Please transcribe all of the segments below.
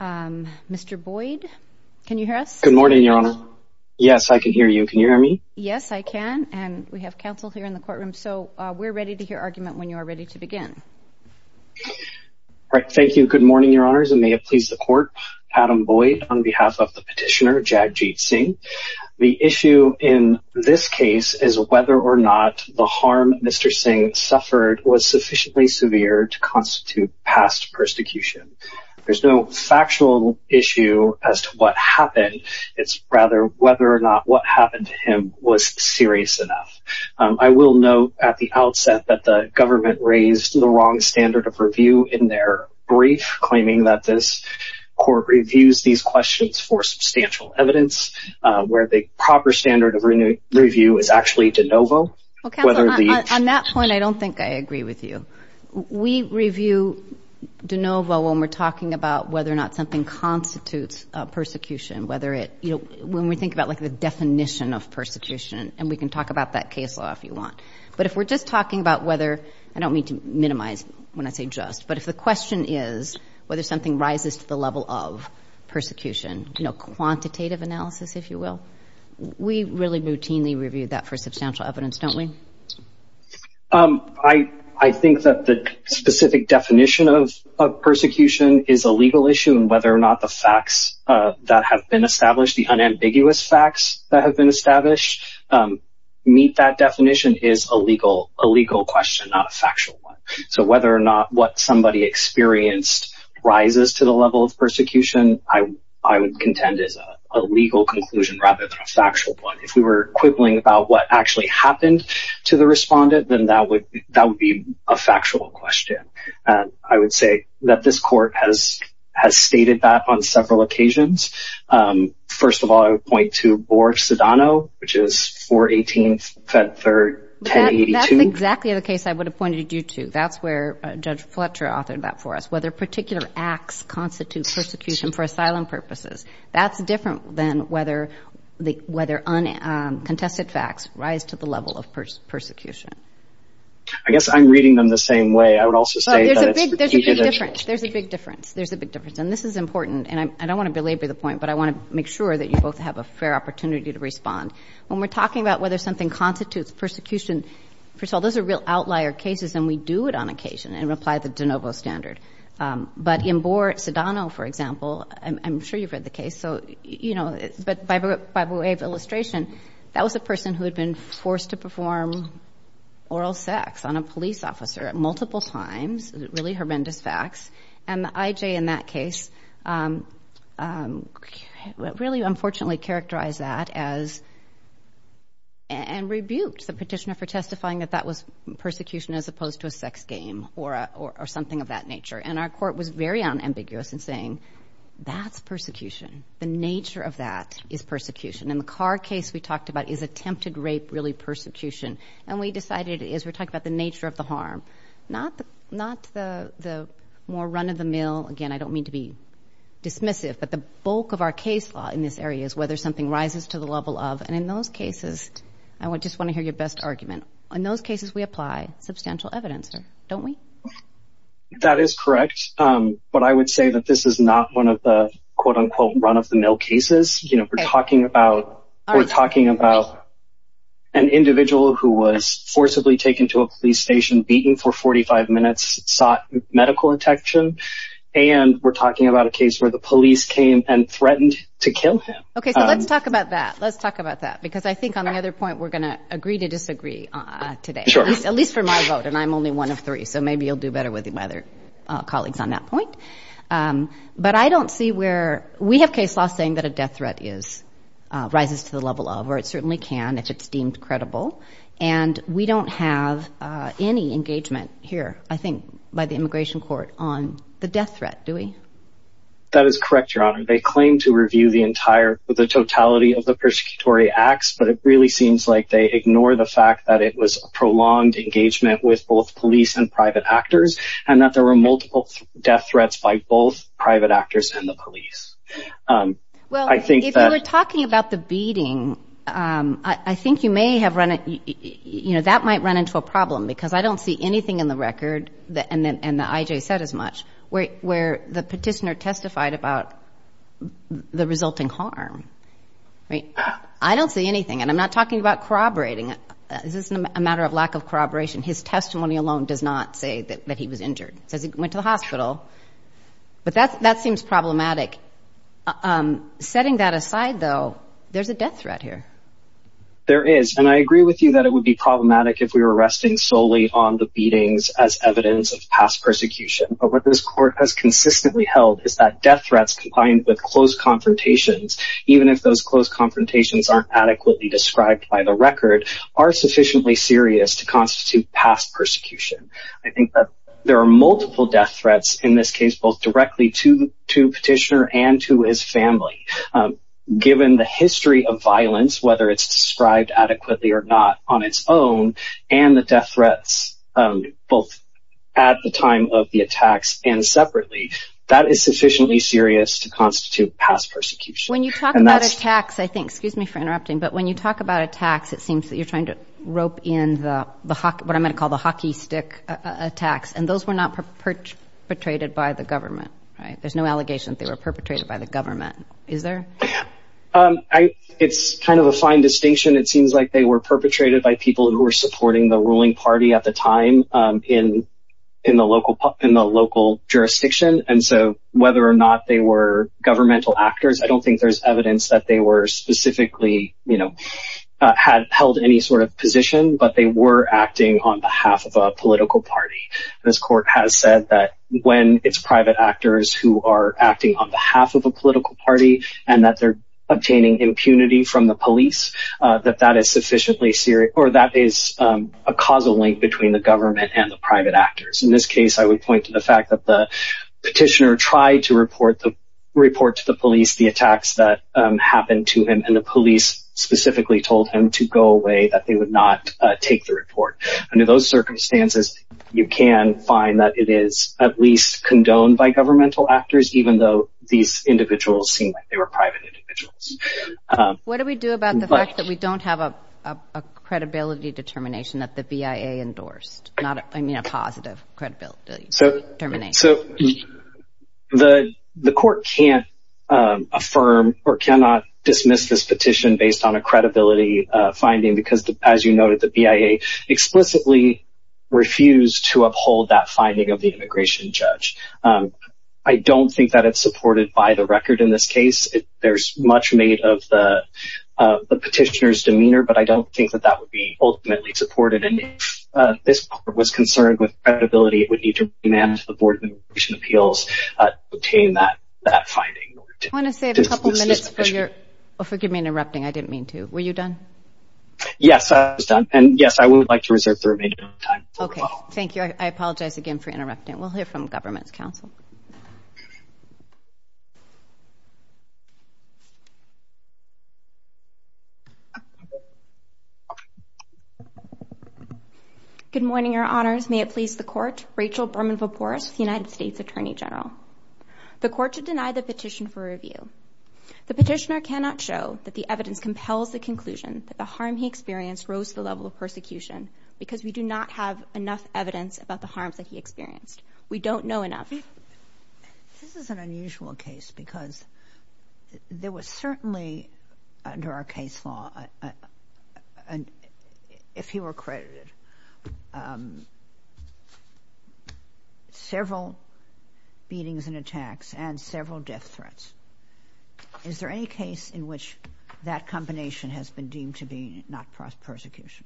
Mr. Boyd, can you hear us? Good morning, Your Honour. Yes, I can hear you. Can you hear me? Yes, I can and we have counsel here in the courtroom. So we're ready to hear argument when you are ready to begin. Right, thank you. Good morning, Your Honours and may it please the court. Adam Boyd on behalf of the petitioner Jagjit Singh. The issue in this case is whether or not the harm Mr. Singh suffered was sufficiently severe to factual issue as to what happened. It's rather whether or not what happened to him was serious enough. I will note at the outset that the government raised the wrong standard of review in their brief, claiming that this court reviews these questions for substantial evidence, where the proper standard of review is actually de novo. On that point, I don't think I agree with you. We review de novo when we're talking about whether or not something constitutes persecution, whether it, you know, when we think about like the definition of persecution and we can talk about that case law if you want. But if we're just talking about whether, I don't mean to minimize when I say just, but if the question is whether something rises to the level of persecution, you know, quantitative analysis, if you will, we really routinely review that for substantial evidence, don't we? I think that the specific definition of persecution is a legal issue and whether or not the facts that have been established, the unambiguous facts that have been established, meet that definition is a legal question, not a factual one. So whether or not what somebody experienced rises to the level of persecution, I would contend is a legal conclusion rather than a factual one. If we were quibbling about what actually happened, to the respondent, then that would that would be a factual question. I would say that this court has has stated that on several occasions. First of all, I would point to Borg-Sedano, which is 418 Fed 3rd, 1082. That's exactly the case I would have pointed you to. That's where Judge Fletcher authored that for us, whether particular acts constitute persecution for asylum purposes. That's different than whether the whether contested facts rise to the level of persecution. I guess I'm reading them the same way. I would also say there's a big difference. There's a big difference. And this is important and I don't want to belabor the point, but I want to make sure that you both have a fair opportunity to respond. When we're talking about whether something constitutes persecution, first of all, those are real outlier cases and we do it on occasion and apply the de novo standard. But in Borg-Sedano, for example, I'm sure you've read the case. So, you know, but by way of illustration, that was a person who had been forced to perform oral sex on a police officer at multiple times, really horrendous facts, and the IJ in that case really unfortunately characterized that as and rebuked the petitioner for testifying that that was persecution as opposed to a sex game or something of that nature. And our court was very unambiguous in saying that's persecution. The nature of that is persecution. And the Carr case we talked about is attempted rape, really persecution. And we decided as we're talking about the nature of the harm, not the more run-of-the-mill, again, I don't mean to be dismissive, but the bulk of our case law in this area is whether something rises to the level of. And in those cases, I just want to hear your best argument. In those cases, we apply substantial evidence, don't we? That is correct. But I would say that this is not one of the quote-unquote run-of-the-mill cases. You know, we're talking about we're talking about an individual who was forcibly taken to a police station, beaten for 45 minutes, sought medical attention, and we're talking about a case where the police came and threatened to kill him. Okay, so let's talk about that. Let's talk about that, because I think on the other point, we're gonna agree to disagree today, at least for my vote, and I'm only one of three, so maybe you'll do better with my other colleagues on that point. But I don't see where, we have case law saying that a death threat rises to the level of, or it certainly can if it's deemed credible, and we don't have any engagement here, I think, by the Immigration Court on the death threat, do we? That is correct, Your Honor. They claim to review the entire, the totality of the persecutory acts, but it really seems like they ignore the fact that it was a prolonged engagement with both police and private actors, and that there were multiple death threats by both private actors and the police. Well, if we're talking about the beating, I think you may have run, you know, that might run into a problem, because I don't see anything in the record, and the IJ said as much, where the petitioner testified about the resulting harm. Right? I don't see anything, and I'm not talking about corroborating it. This isn't a matter of lack of corroboration. His testimony alone does not say that he was injured. It says he went to the hospital, but that seems problematic. Setting that aside, though, there's a death threat here. There is, and I agree with you that it would be problematic if we were arresting solely on the beatings as evidence of past persecution, but what this court has consistently held is that death threats combined with close confrontations, even if those close confrontations aren't adequately described by the record, are sufficiently serious to constitute past persecution. I think that there are multiple death threats in this case, both directly to the petitioner and to his family. Given the history of violence, whether it's described adequately or not on its own, and the death threats both at the time of the attacks and separately, that is sufficiently serious to constitute past persecution. When you talk about attacks, I think, excuse me for interrupting, but when you talk about attacks, it seems that you're trying to rope in the what I'm going to call the hockey stick attacks, and those were not perpetrated by the government, right? There's no allegation that they were perpetrated by the government, is there? It's kind of a fine distinction. It seems like they were perpetrated by people who were supporting the ruling party at the time in the local jurisdiction. And so whether or not they were governmental actors, I don't think there's evidence that they were specifically, you know, had held any sort of position, but they were acting on behalf of a political party. This court has said that when it's private actors who are acting on behalf of a political party and that they're obtaining impunity from the police, that that is sufficiently serious or that is a causal link between the government and the private actors. In this case, I would point to the fact that the petitioner tried to report the report to the police, the attacks that happened to him, and the police specifically told him to go away, that they would not take the report. Under those circumstances, you can find that it is at least condoned by governmental actors, even though these individuals seem like they were private individuals. What do we do about the fact that we don't have a credibility determination that the BIA endorsed? Not, I mean, a positive credibility determination. So the court can't affirm or cannot dismiss this petition based on a credibility finding, because, as you noted, the BIA explicitly refused to uphold that finding of the immigration judge. I don't think that it's supported by the record in this case. There's much made of the petitioner's demeanor, but I don't think that that would be ultimately supported. And if this court was concerned with credibility, it would need to demand that the Board of Immigration Appeals obtain that finding. I want to save a couple of minutes for your, forgive me, interrupting. I didn't mean to. Were you done? Yes, I was done. And yes, I would like to reserve the remaining time. OK, thank you. I apologize again for interrupting. We'll hear from government's counsel. Good morning, Your Honors. May it please the court. Rachel Berman-Voporis, United States Attorney General. The court should deny the petition for review. The petitioner cannot show that the evidence compels the conclusion that the harm he experienced rose to the level of persecution because we do not have enough evidence about the harms that he experienced. We don't know enough. This is an unusual case because there was certainly, under our case law, if he were credited, several beatings and attacks and several death threats. Is there any case in which that combination has been deemed to be not prosecution?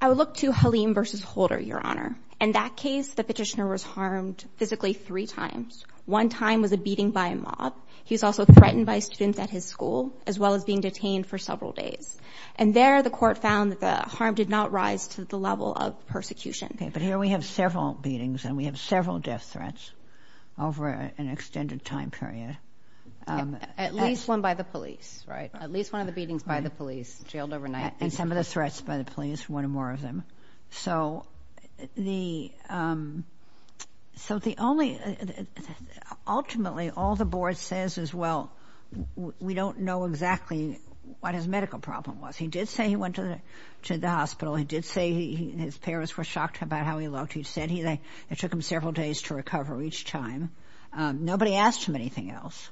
I would look to Halim versus Holder, Your Honor. In that case, the petitioner was harmed physically three times. One time was a beating by a mob. He was also threatened by students at his school, as well as being detained for several days. And there, the court found that the harm did not rise to the level of persecution. OK, but here we have several beatings and we have several death threats over an extended time period. At least one by the police, right? At least one of the beatings by the police, jailed overnight. And some of the threats by the police, one or more of them. So ultimately, all the board says is, well, we don't know exactly what his medical problem was. He did say he went to the hospital. He did say his parents were shocked about how he looked. He said it took him several days to recover each time. Nobody asked him anything else.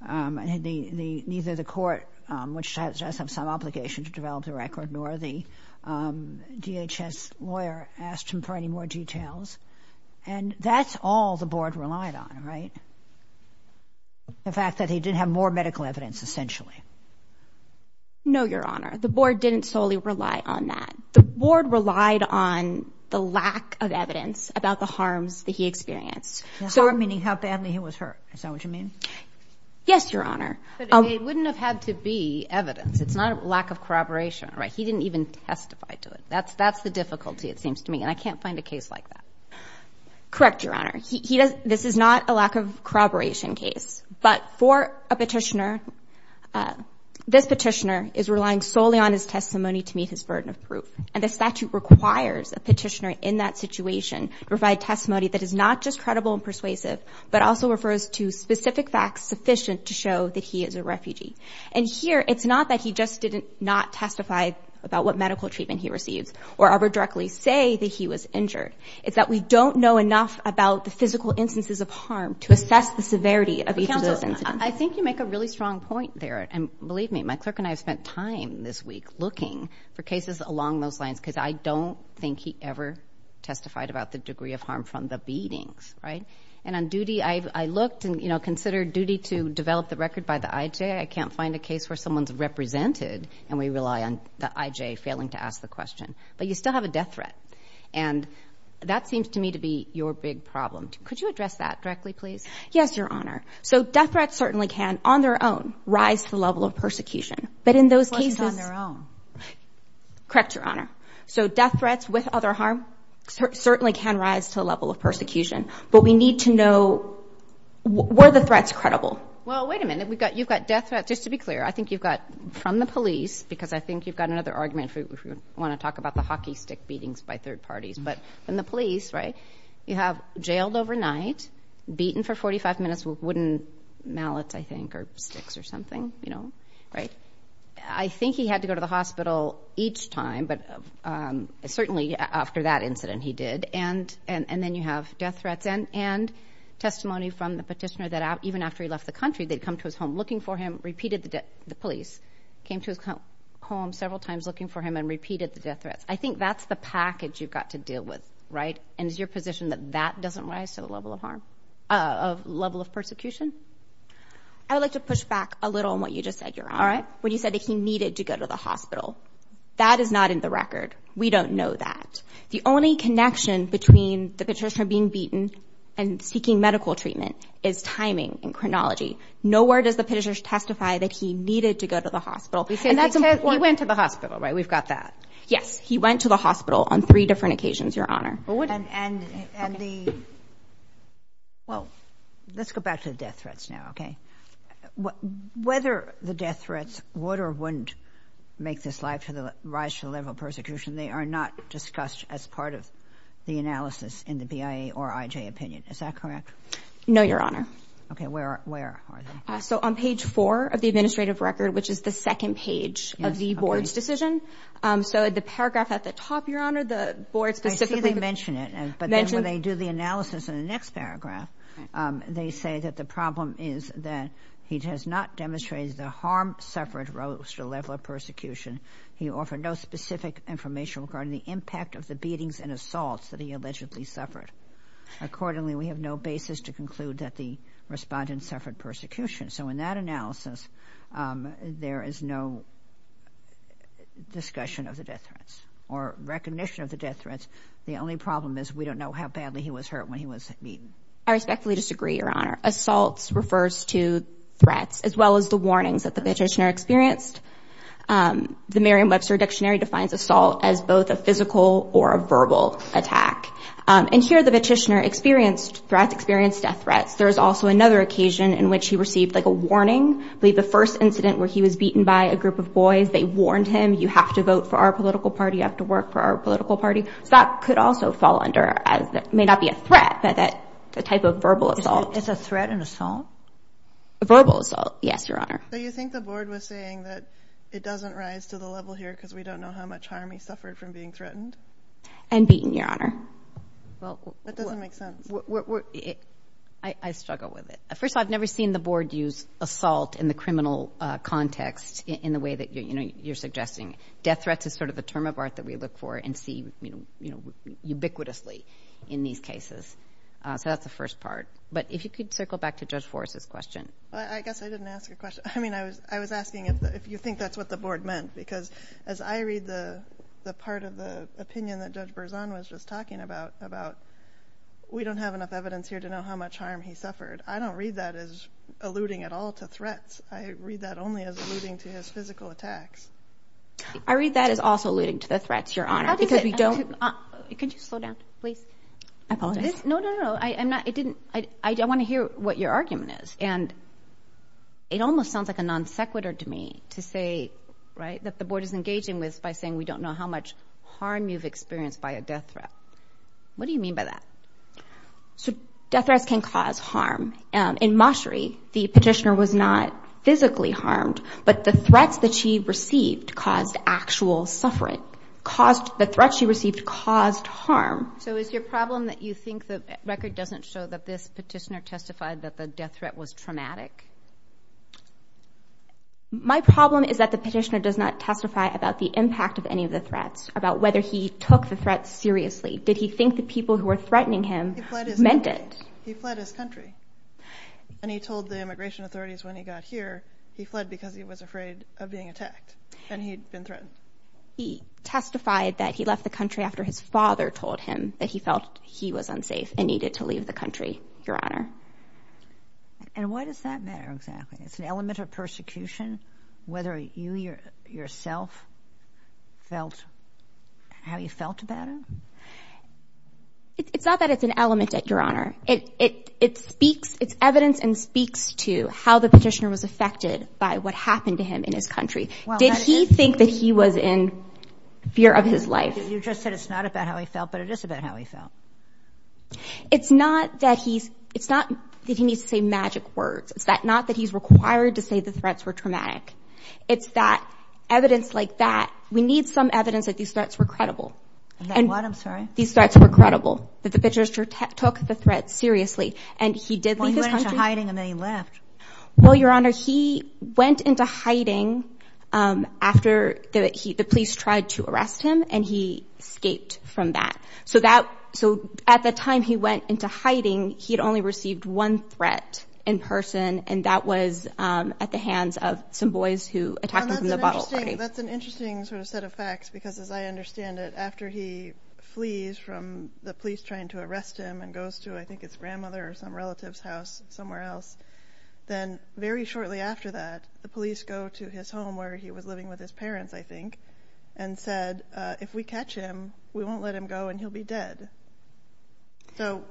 And neither the court, which does have some obligation to develop the record, nor the DHS lawyer asked him for any more details. And that's all the board relied on, right? The fact that he didn't have more medical evidence, essentially. No, Your Honor, the board didn't solely rely on that. The board relied on the lack of evidence about the harms that he experienced. Harm, meaning how badly he was hurt. Is that what you mean? Yes, Your Honor. But it wouldn't have had to be evidence. It's not a lack of corroboration, right? He didn't even testify to it. That's the difficulty, it seems to me. And I can't find a case like that. Correct, Your Honor. This is not a lack of corroboration case. But for a petitioner, this petitioner is relying solely on his testimony to meet his burden of proof. And the statute requires a petitioner in that situation to provide testimony that is not just credible and persuasive, but also refers to specific facts sufficient to show that he is a refugee. And here, it's not that he just did not testify about what medical treatment he receives or ever directly say that he was injured. It's that we don't know enough about the physical instances of harm to assess the severity of each of those incidents. I think you make a really strong point there. And believe me, my clerk and I have spent time this week looking for cases along those lines because I don't think he ever testified about the degree of harm from the beatings, right? And on duty, I looked and, you know, consider duty to develop the record by the IJ. I can't find a case where someone's represented and we rely on the IJ failing to ask the question. But you still have a death threat. And that seems to me to be your big problem. Could you address that directly, please? Yes, Your Honor. So death threats certainly can, on their own, rise to the level of persecution. But in those cases... The question's on their own. So death threats with other harm certainly can rise to the level of persecution. But we need to know, were the threats credible? Well, wait a minute. We've got... You've got death threats. Just to be clear, I think you've got from the police, because I think you've got another argument if you want to talk about the hockey stick beatings by third parties. But from the police, right, you have jailed overnight, beaten for 45 minutes with wooden mallets, I think, or sticks or something, you know, right? I think he had to go to the hospital each time. But certainly after that incident, he did. And then you have death threats and testimony from the petitioner that even after he left the country, they'd come to his home looking for him, repeated the police, came to his home several times looking for him and repeated the death threats. I think that's the package you've got to deal with, right? And is your position that that doesn't rise to the level of harm, of level of persecution? I would like to push back a little on what you just said, Your Honor. All right. When you said that he needed to go to the hospital. That is not in the record. We don't know that. The only connection between the petitioner being beaten and seeking medical treatment is timing and chronology. Nowhere does the petitioner testify that he needed to go to the hospital. And that's why he went to the hospital, right? We've got that. Yes. He went to the hospital on three different occasions, Your Honor. And the. Well, let's go back to the death threats now, OK? Whether the death threats would or wouldn't make this life for the rise to the level of persecution, they are not discussed as part of the analysis in the BIA or IJ opinion. Is that correct? No, Your Honor. OK, where where are they? So on page four of the administrative record, which is the second page of the board's decision. So the paragraph at the top, Your Honor, the board specifically mentioned it. But then when they do the analysis in the next paragraph, they say that the problem is that he has not demonstrated the harm suffered, rose to a level of persecution. He offered no specific information regarding the impact of the beatings and assaults that he allegedly suffered. Accordingly, we have no basis to conclude that the respondent suffered persecution. So in that analysis, there is no discussion of the death threats or recognition of the death threats. The only problem is we don't know how badly he was hurt when he was beaten. I respectfully disagree, Your Honor. Assaults refers to threats as well as the warnings that the petitioner experienced. The Merriam Webster Dictionary defines assault as both a physical or a verbal attack. And here the petitioner experienced threats, experienced death threats. There is also another occasion in which he received like a warning. Believe the first incident where he was beaten by a group of boys. They warned him, you have to vote for our political party. You have to work for our political party. So that could also fall under as that may not be a threat, but that the type of verbal assault is a threat and assault. Verbal assault. Yes, Your Honor. Do you think the board was saying that it doesn't rise to the level here because we don't know how much harm he suffered from being threatened? And beaten, Your Honor. Well, that doesn't make sense. I struggle with it. First, I've never seen the board use assault in the criminal context in the way that you're suggesting. Death threats is sort of the term of art that we look for and see, you know, ubiquitously in these cases. So that's the first part. But if you could circle back to Judge Forrest's question. I guess I didn't ask a question. I mean, I was I was asking if you think that's what the board meant. Because as I read the part of the opinion that Judge Berzon was just talking about, about we don't have enough evidence here to know how much harm he suffered. I don't read that as alluding at all to threats. I read that only as alluding to his physical attacks. I read that as also alluding to the threats, Your Honor, because we don't. Could you slow down, please? I apologize. No, no, no. I am not. It didn't. I want to hear what your argument is. And it almost sounds like a non sequitur to me to say, right, that the board is engaging with by saying we don't know how much harm you've experienced by a death threat. What do you mean by that? So death threats can cause harm. In Mashri, the petitioner was not physically harmed, but the threats that she received caused actual suffering, caused the threats she received caused harm. So is your problem that you think the record doesn't show that this petitioner testified that the death threat was traumatic? My problem is that the petitioner does not testify about the impact of any of the threats, about whether he took the threat seriously. Did he think the people who were threatening him meant it? He fled his country. And he told the immigration authorities when he got here, he fled because he was afraid of being attacked and he'd been threatened. He testified that he left the country after his father told him that he felt he was unsafe and needed to leave the country, Your Honor. And why does that matter exactly? It's an element of persecution. Whether you yourself felt how you felt about it? It's not that it's an element, Your Honor. It speaks, it's evidence and speaks to how the petitioner was affected by what happened to him in his country. Did he think that he was in fear of his life? You just said it's not about how he felt, but it is about how he felt. It's not that he's, it's not that he needs to say magic words. It's not that he's required to say the threats were traumatic. It's that evidence like that, we need some evidence that these threats were credible. And that what, I'm sorry? These threats were credible, that the petitioner took the threat seriously. And he did leave his country. Well, he went into hiding and then he left. Well, Your Honor, he went into hiding after the police tried to arrest him and he escaped from that. So that, so at the time he went into hiding, he had only received one threat in person. And that was at the hands of some boys who attacked him from the bottle. That's an interesting sort of set of facts, because as I understand it, after he flees from the police trying to arrest him and goes to, I think it's grandmother or some relative's house somewhere else. Then very shortly after that, the police go to his home where he was living with his parents, I think, and said, if we catch him, we won't let him go and he'll be dead. So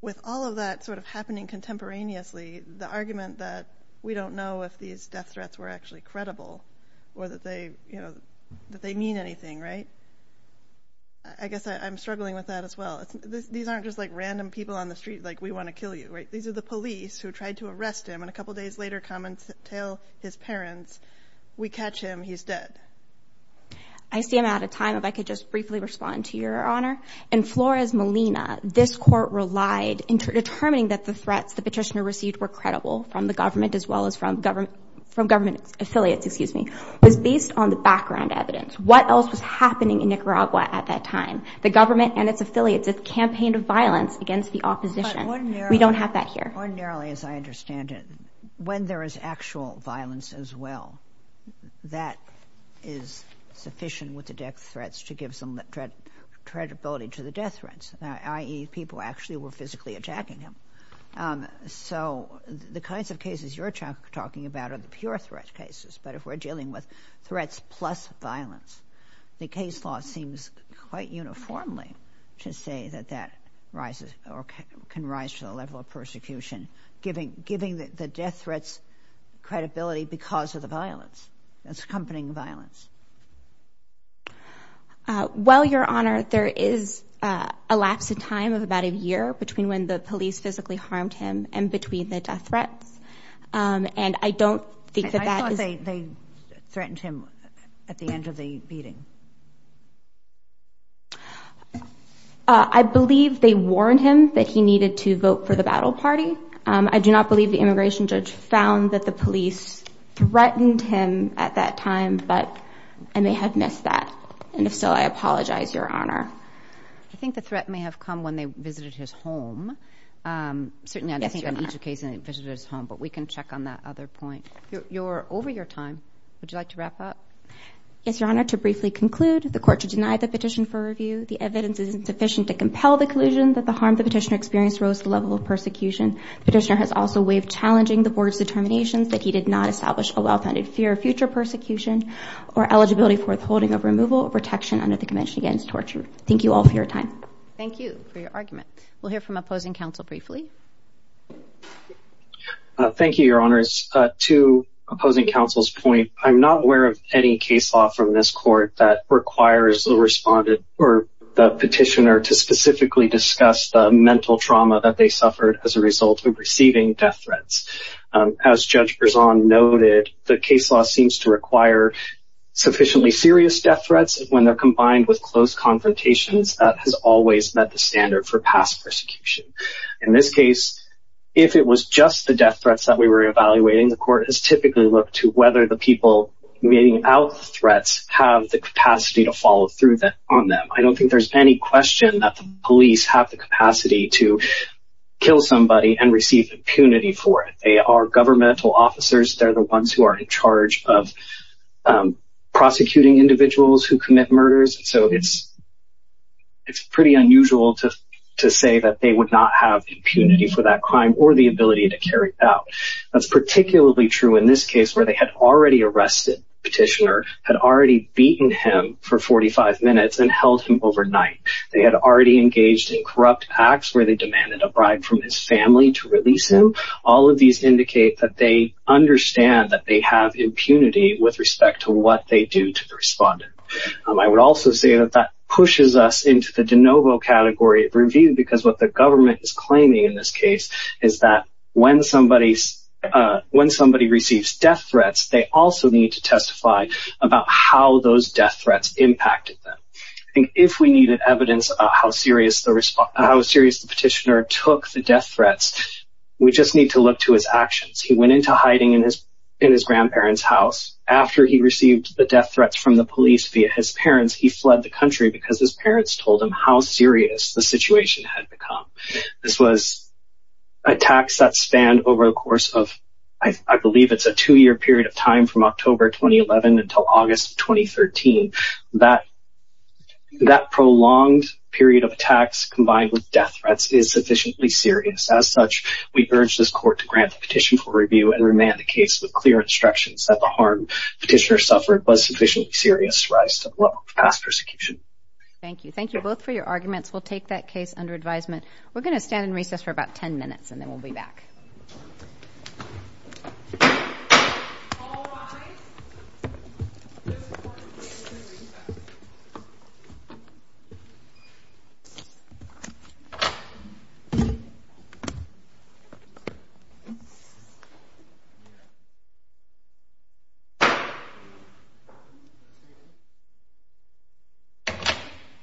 with all of that sort of happening contemporaneously, the argument that we don't know if these death threats were actually credible. Or that they, you know, that they mean anything, right? I guess I'm struggling with that as well. These aren't just like random people on the street, like we want to kill you, right? These are the police who tried to arrest him. And a couple of days later, comments tell his parents, we catch him, he's dead. I see I'm out of time. If I could just briefly respond to Your Honor. In Flores Molina, this court relied into determining that the threats the petitioner received were credible from the government, as well as from government, from government affiliates. Excuse me, was based on the background evidence. What else was happening in Nicaragua at that time? The government and its affiliates have campaigned of violence against the opposition. We don't have that here. Ordinarily, as I understand it, when there is actual violence as well, that is sufficient with the death threats to give some credibility to the death threats, i.e. people actually were physically attacking him. So the kinds of cases you're talking about are the pure threat cases. But if we're dealing with threats plus violence, the case law seems quite uniformly to say that that rises or can rise to the level of persecution, giving giving the death threats credibility because of the violence. That's accompanying violence. Well, Your Honor, there is a lapse in time of about a year between when the police physically harmed him and between the death threats. And I don't think that they threatened him at the end of the meeting. I believe they warned him that he needed to vote for the battle party. I do not believe the immigration judge found that the police threatened him at that time. But I may have missed that. And if so, I apologize, Your Honor. I think the threat may have come when they visited his home. Certainly, I don't think on each occasion they visited his home, but we can check on that other point. You're over your time. Would you like to wrap up? Yes, Your Honor. To briefly conclude, the court to deny the petition for review. The evidence is insufficient to compel the collusion that the harm the petitioner experienced rose to the level of persecution. Petitioner has also waived challenging the board's determinations that he did not establish a well-founded fear of future persecution or eligibility for withholding of removal or protection under the Convention Against Torture. Thank you all for your time. Thank you for your argument. We'll hear from opposing counsel briefly. Thank you, Your Honors. To opposing counsel's point, I'm not aware of any case law from this court that requires the respondent or the petitioner to specifically discuss the mental trauma that they suffered as a result of receiving death threats. As Judge Berzon noted, the case law seems to require sufficiently serious death threats when they're combined with close confrontations. That has always met the standard for past persecution. In this case, if it was just the death threats that we were evaluating, the court has typically looked to whether the people meeting out threats have the capacity to follow through on them. I don't think there's any question that the police have the capacity to kill somebody and receive impunity for it. They are governmental officers. They're the ones who are in charge of prosecuting individuals who commit murders. So it's pretty unusual to say that they would not have impunity for that crime or the ability to carry it out. That's particularly true in this case where they had already arrested the petitioner, had already beaten him for 45 minutes and held him overnight. They had already engaged in corrupt acts where they demanded a bribe from his family to release him. All of these indicate that they understand that they have impunity with respect to what they do to the respondent. I would also say that that pushes us into the de novo category of review because what the government is claiming in this case is that when somebody receives death threats, they also need to testify about how those death threats impacted them. If we needed evidence of how serious the petitioner took the death threats, we just need to look to his actions. He went into hiding in his grandparents' house. After he received the death threats from the police via his parents, he fled the country because his parents told him how serious the situation had become. This was attacks that spanned over the course of, I believe it's a two-year period of time from October 2011 until August 2013. That prolonged period of attacks combined with death threats is sufficiently serious. As such, we urge this court to grant the petition for review and remand the case with clear instructions that the harm the petitioner suffered was sufficiently serious to rise to the level of past persecution. Thank you. Thank you both for your arguments. We'll take that case under advisement. We're going to stand in recess for about 10 minutes and then we'll be back.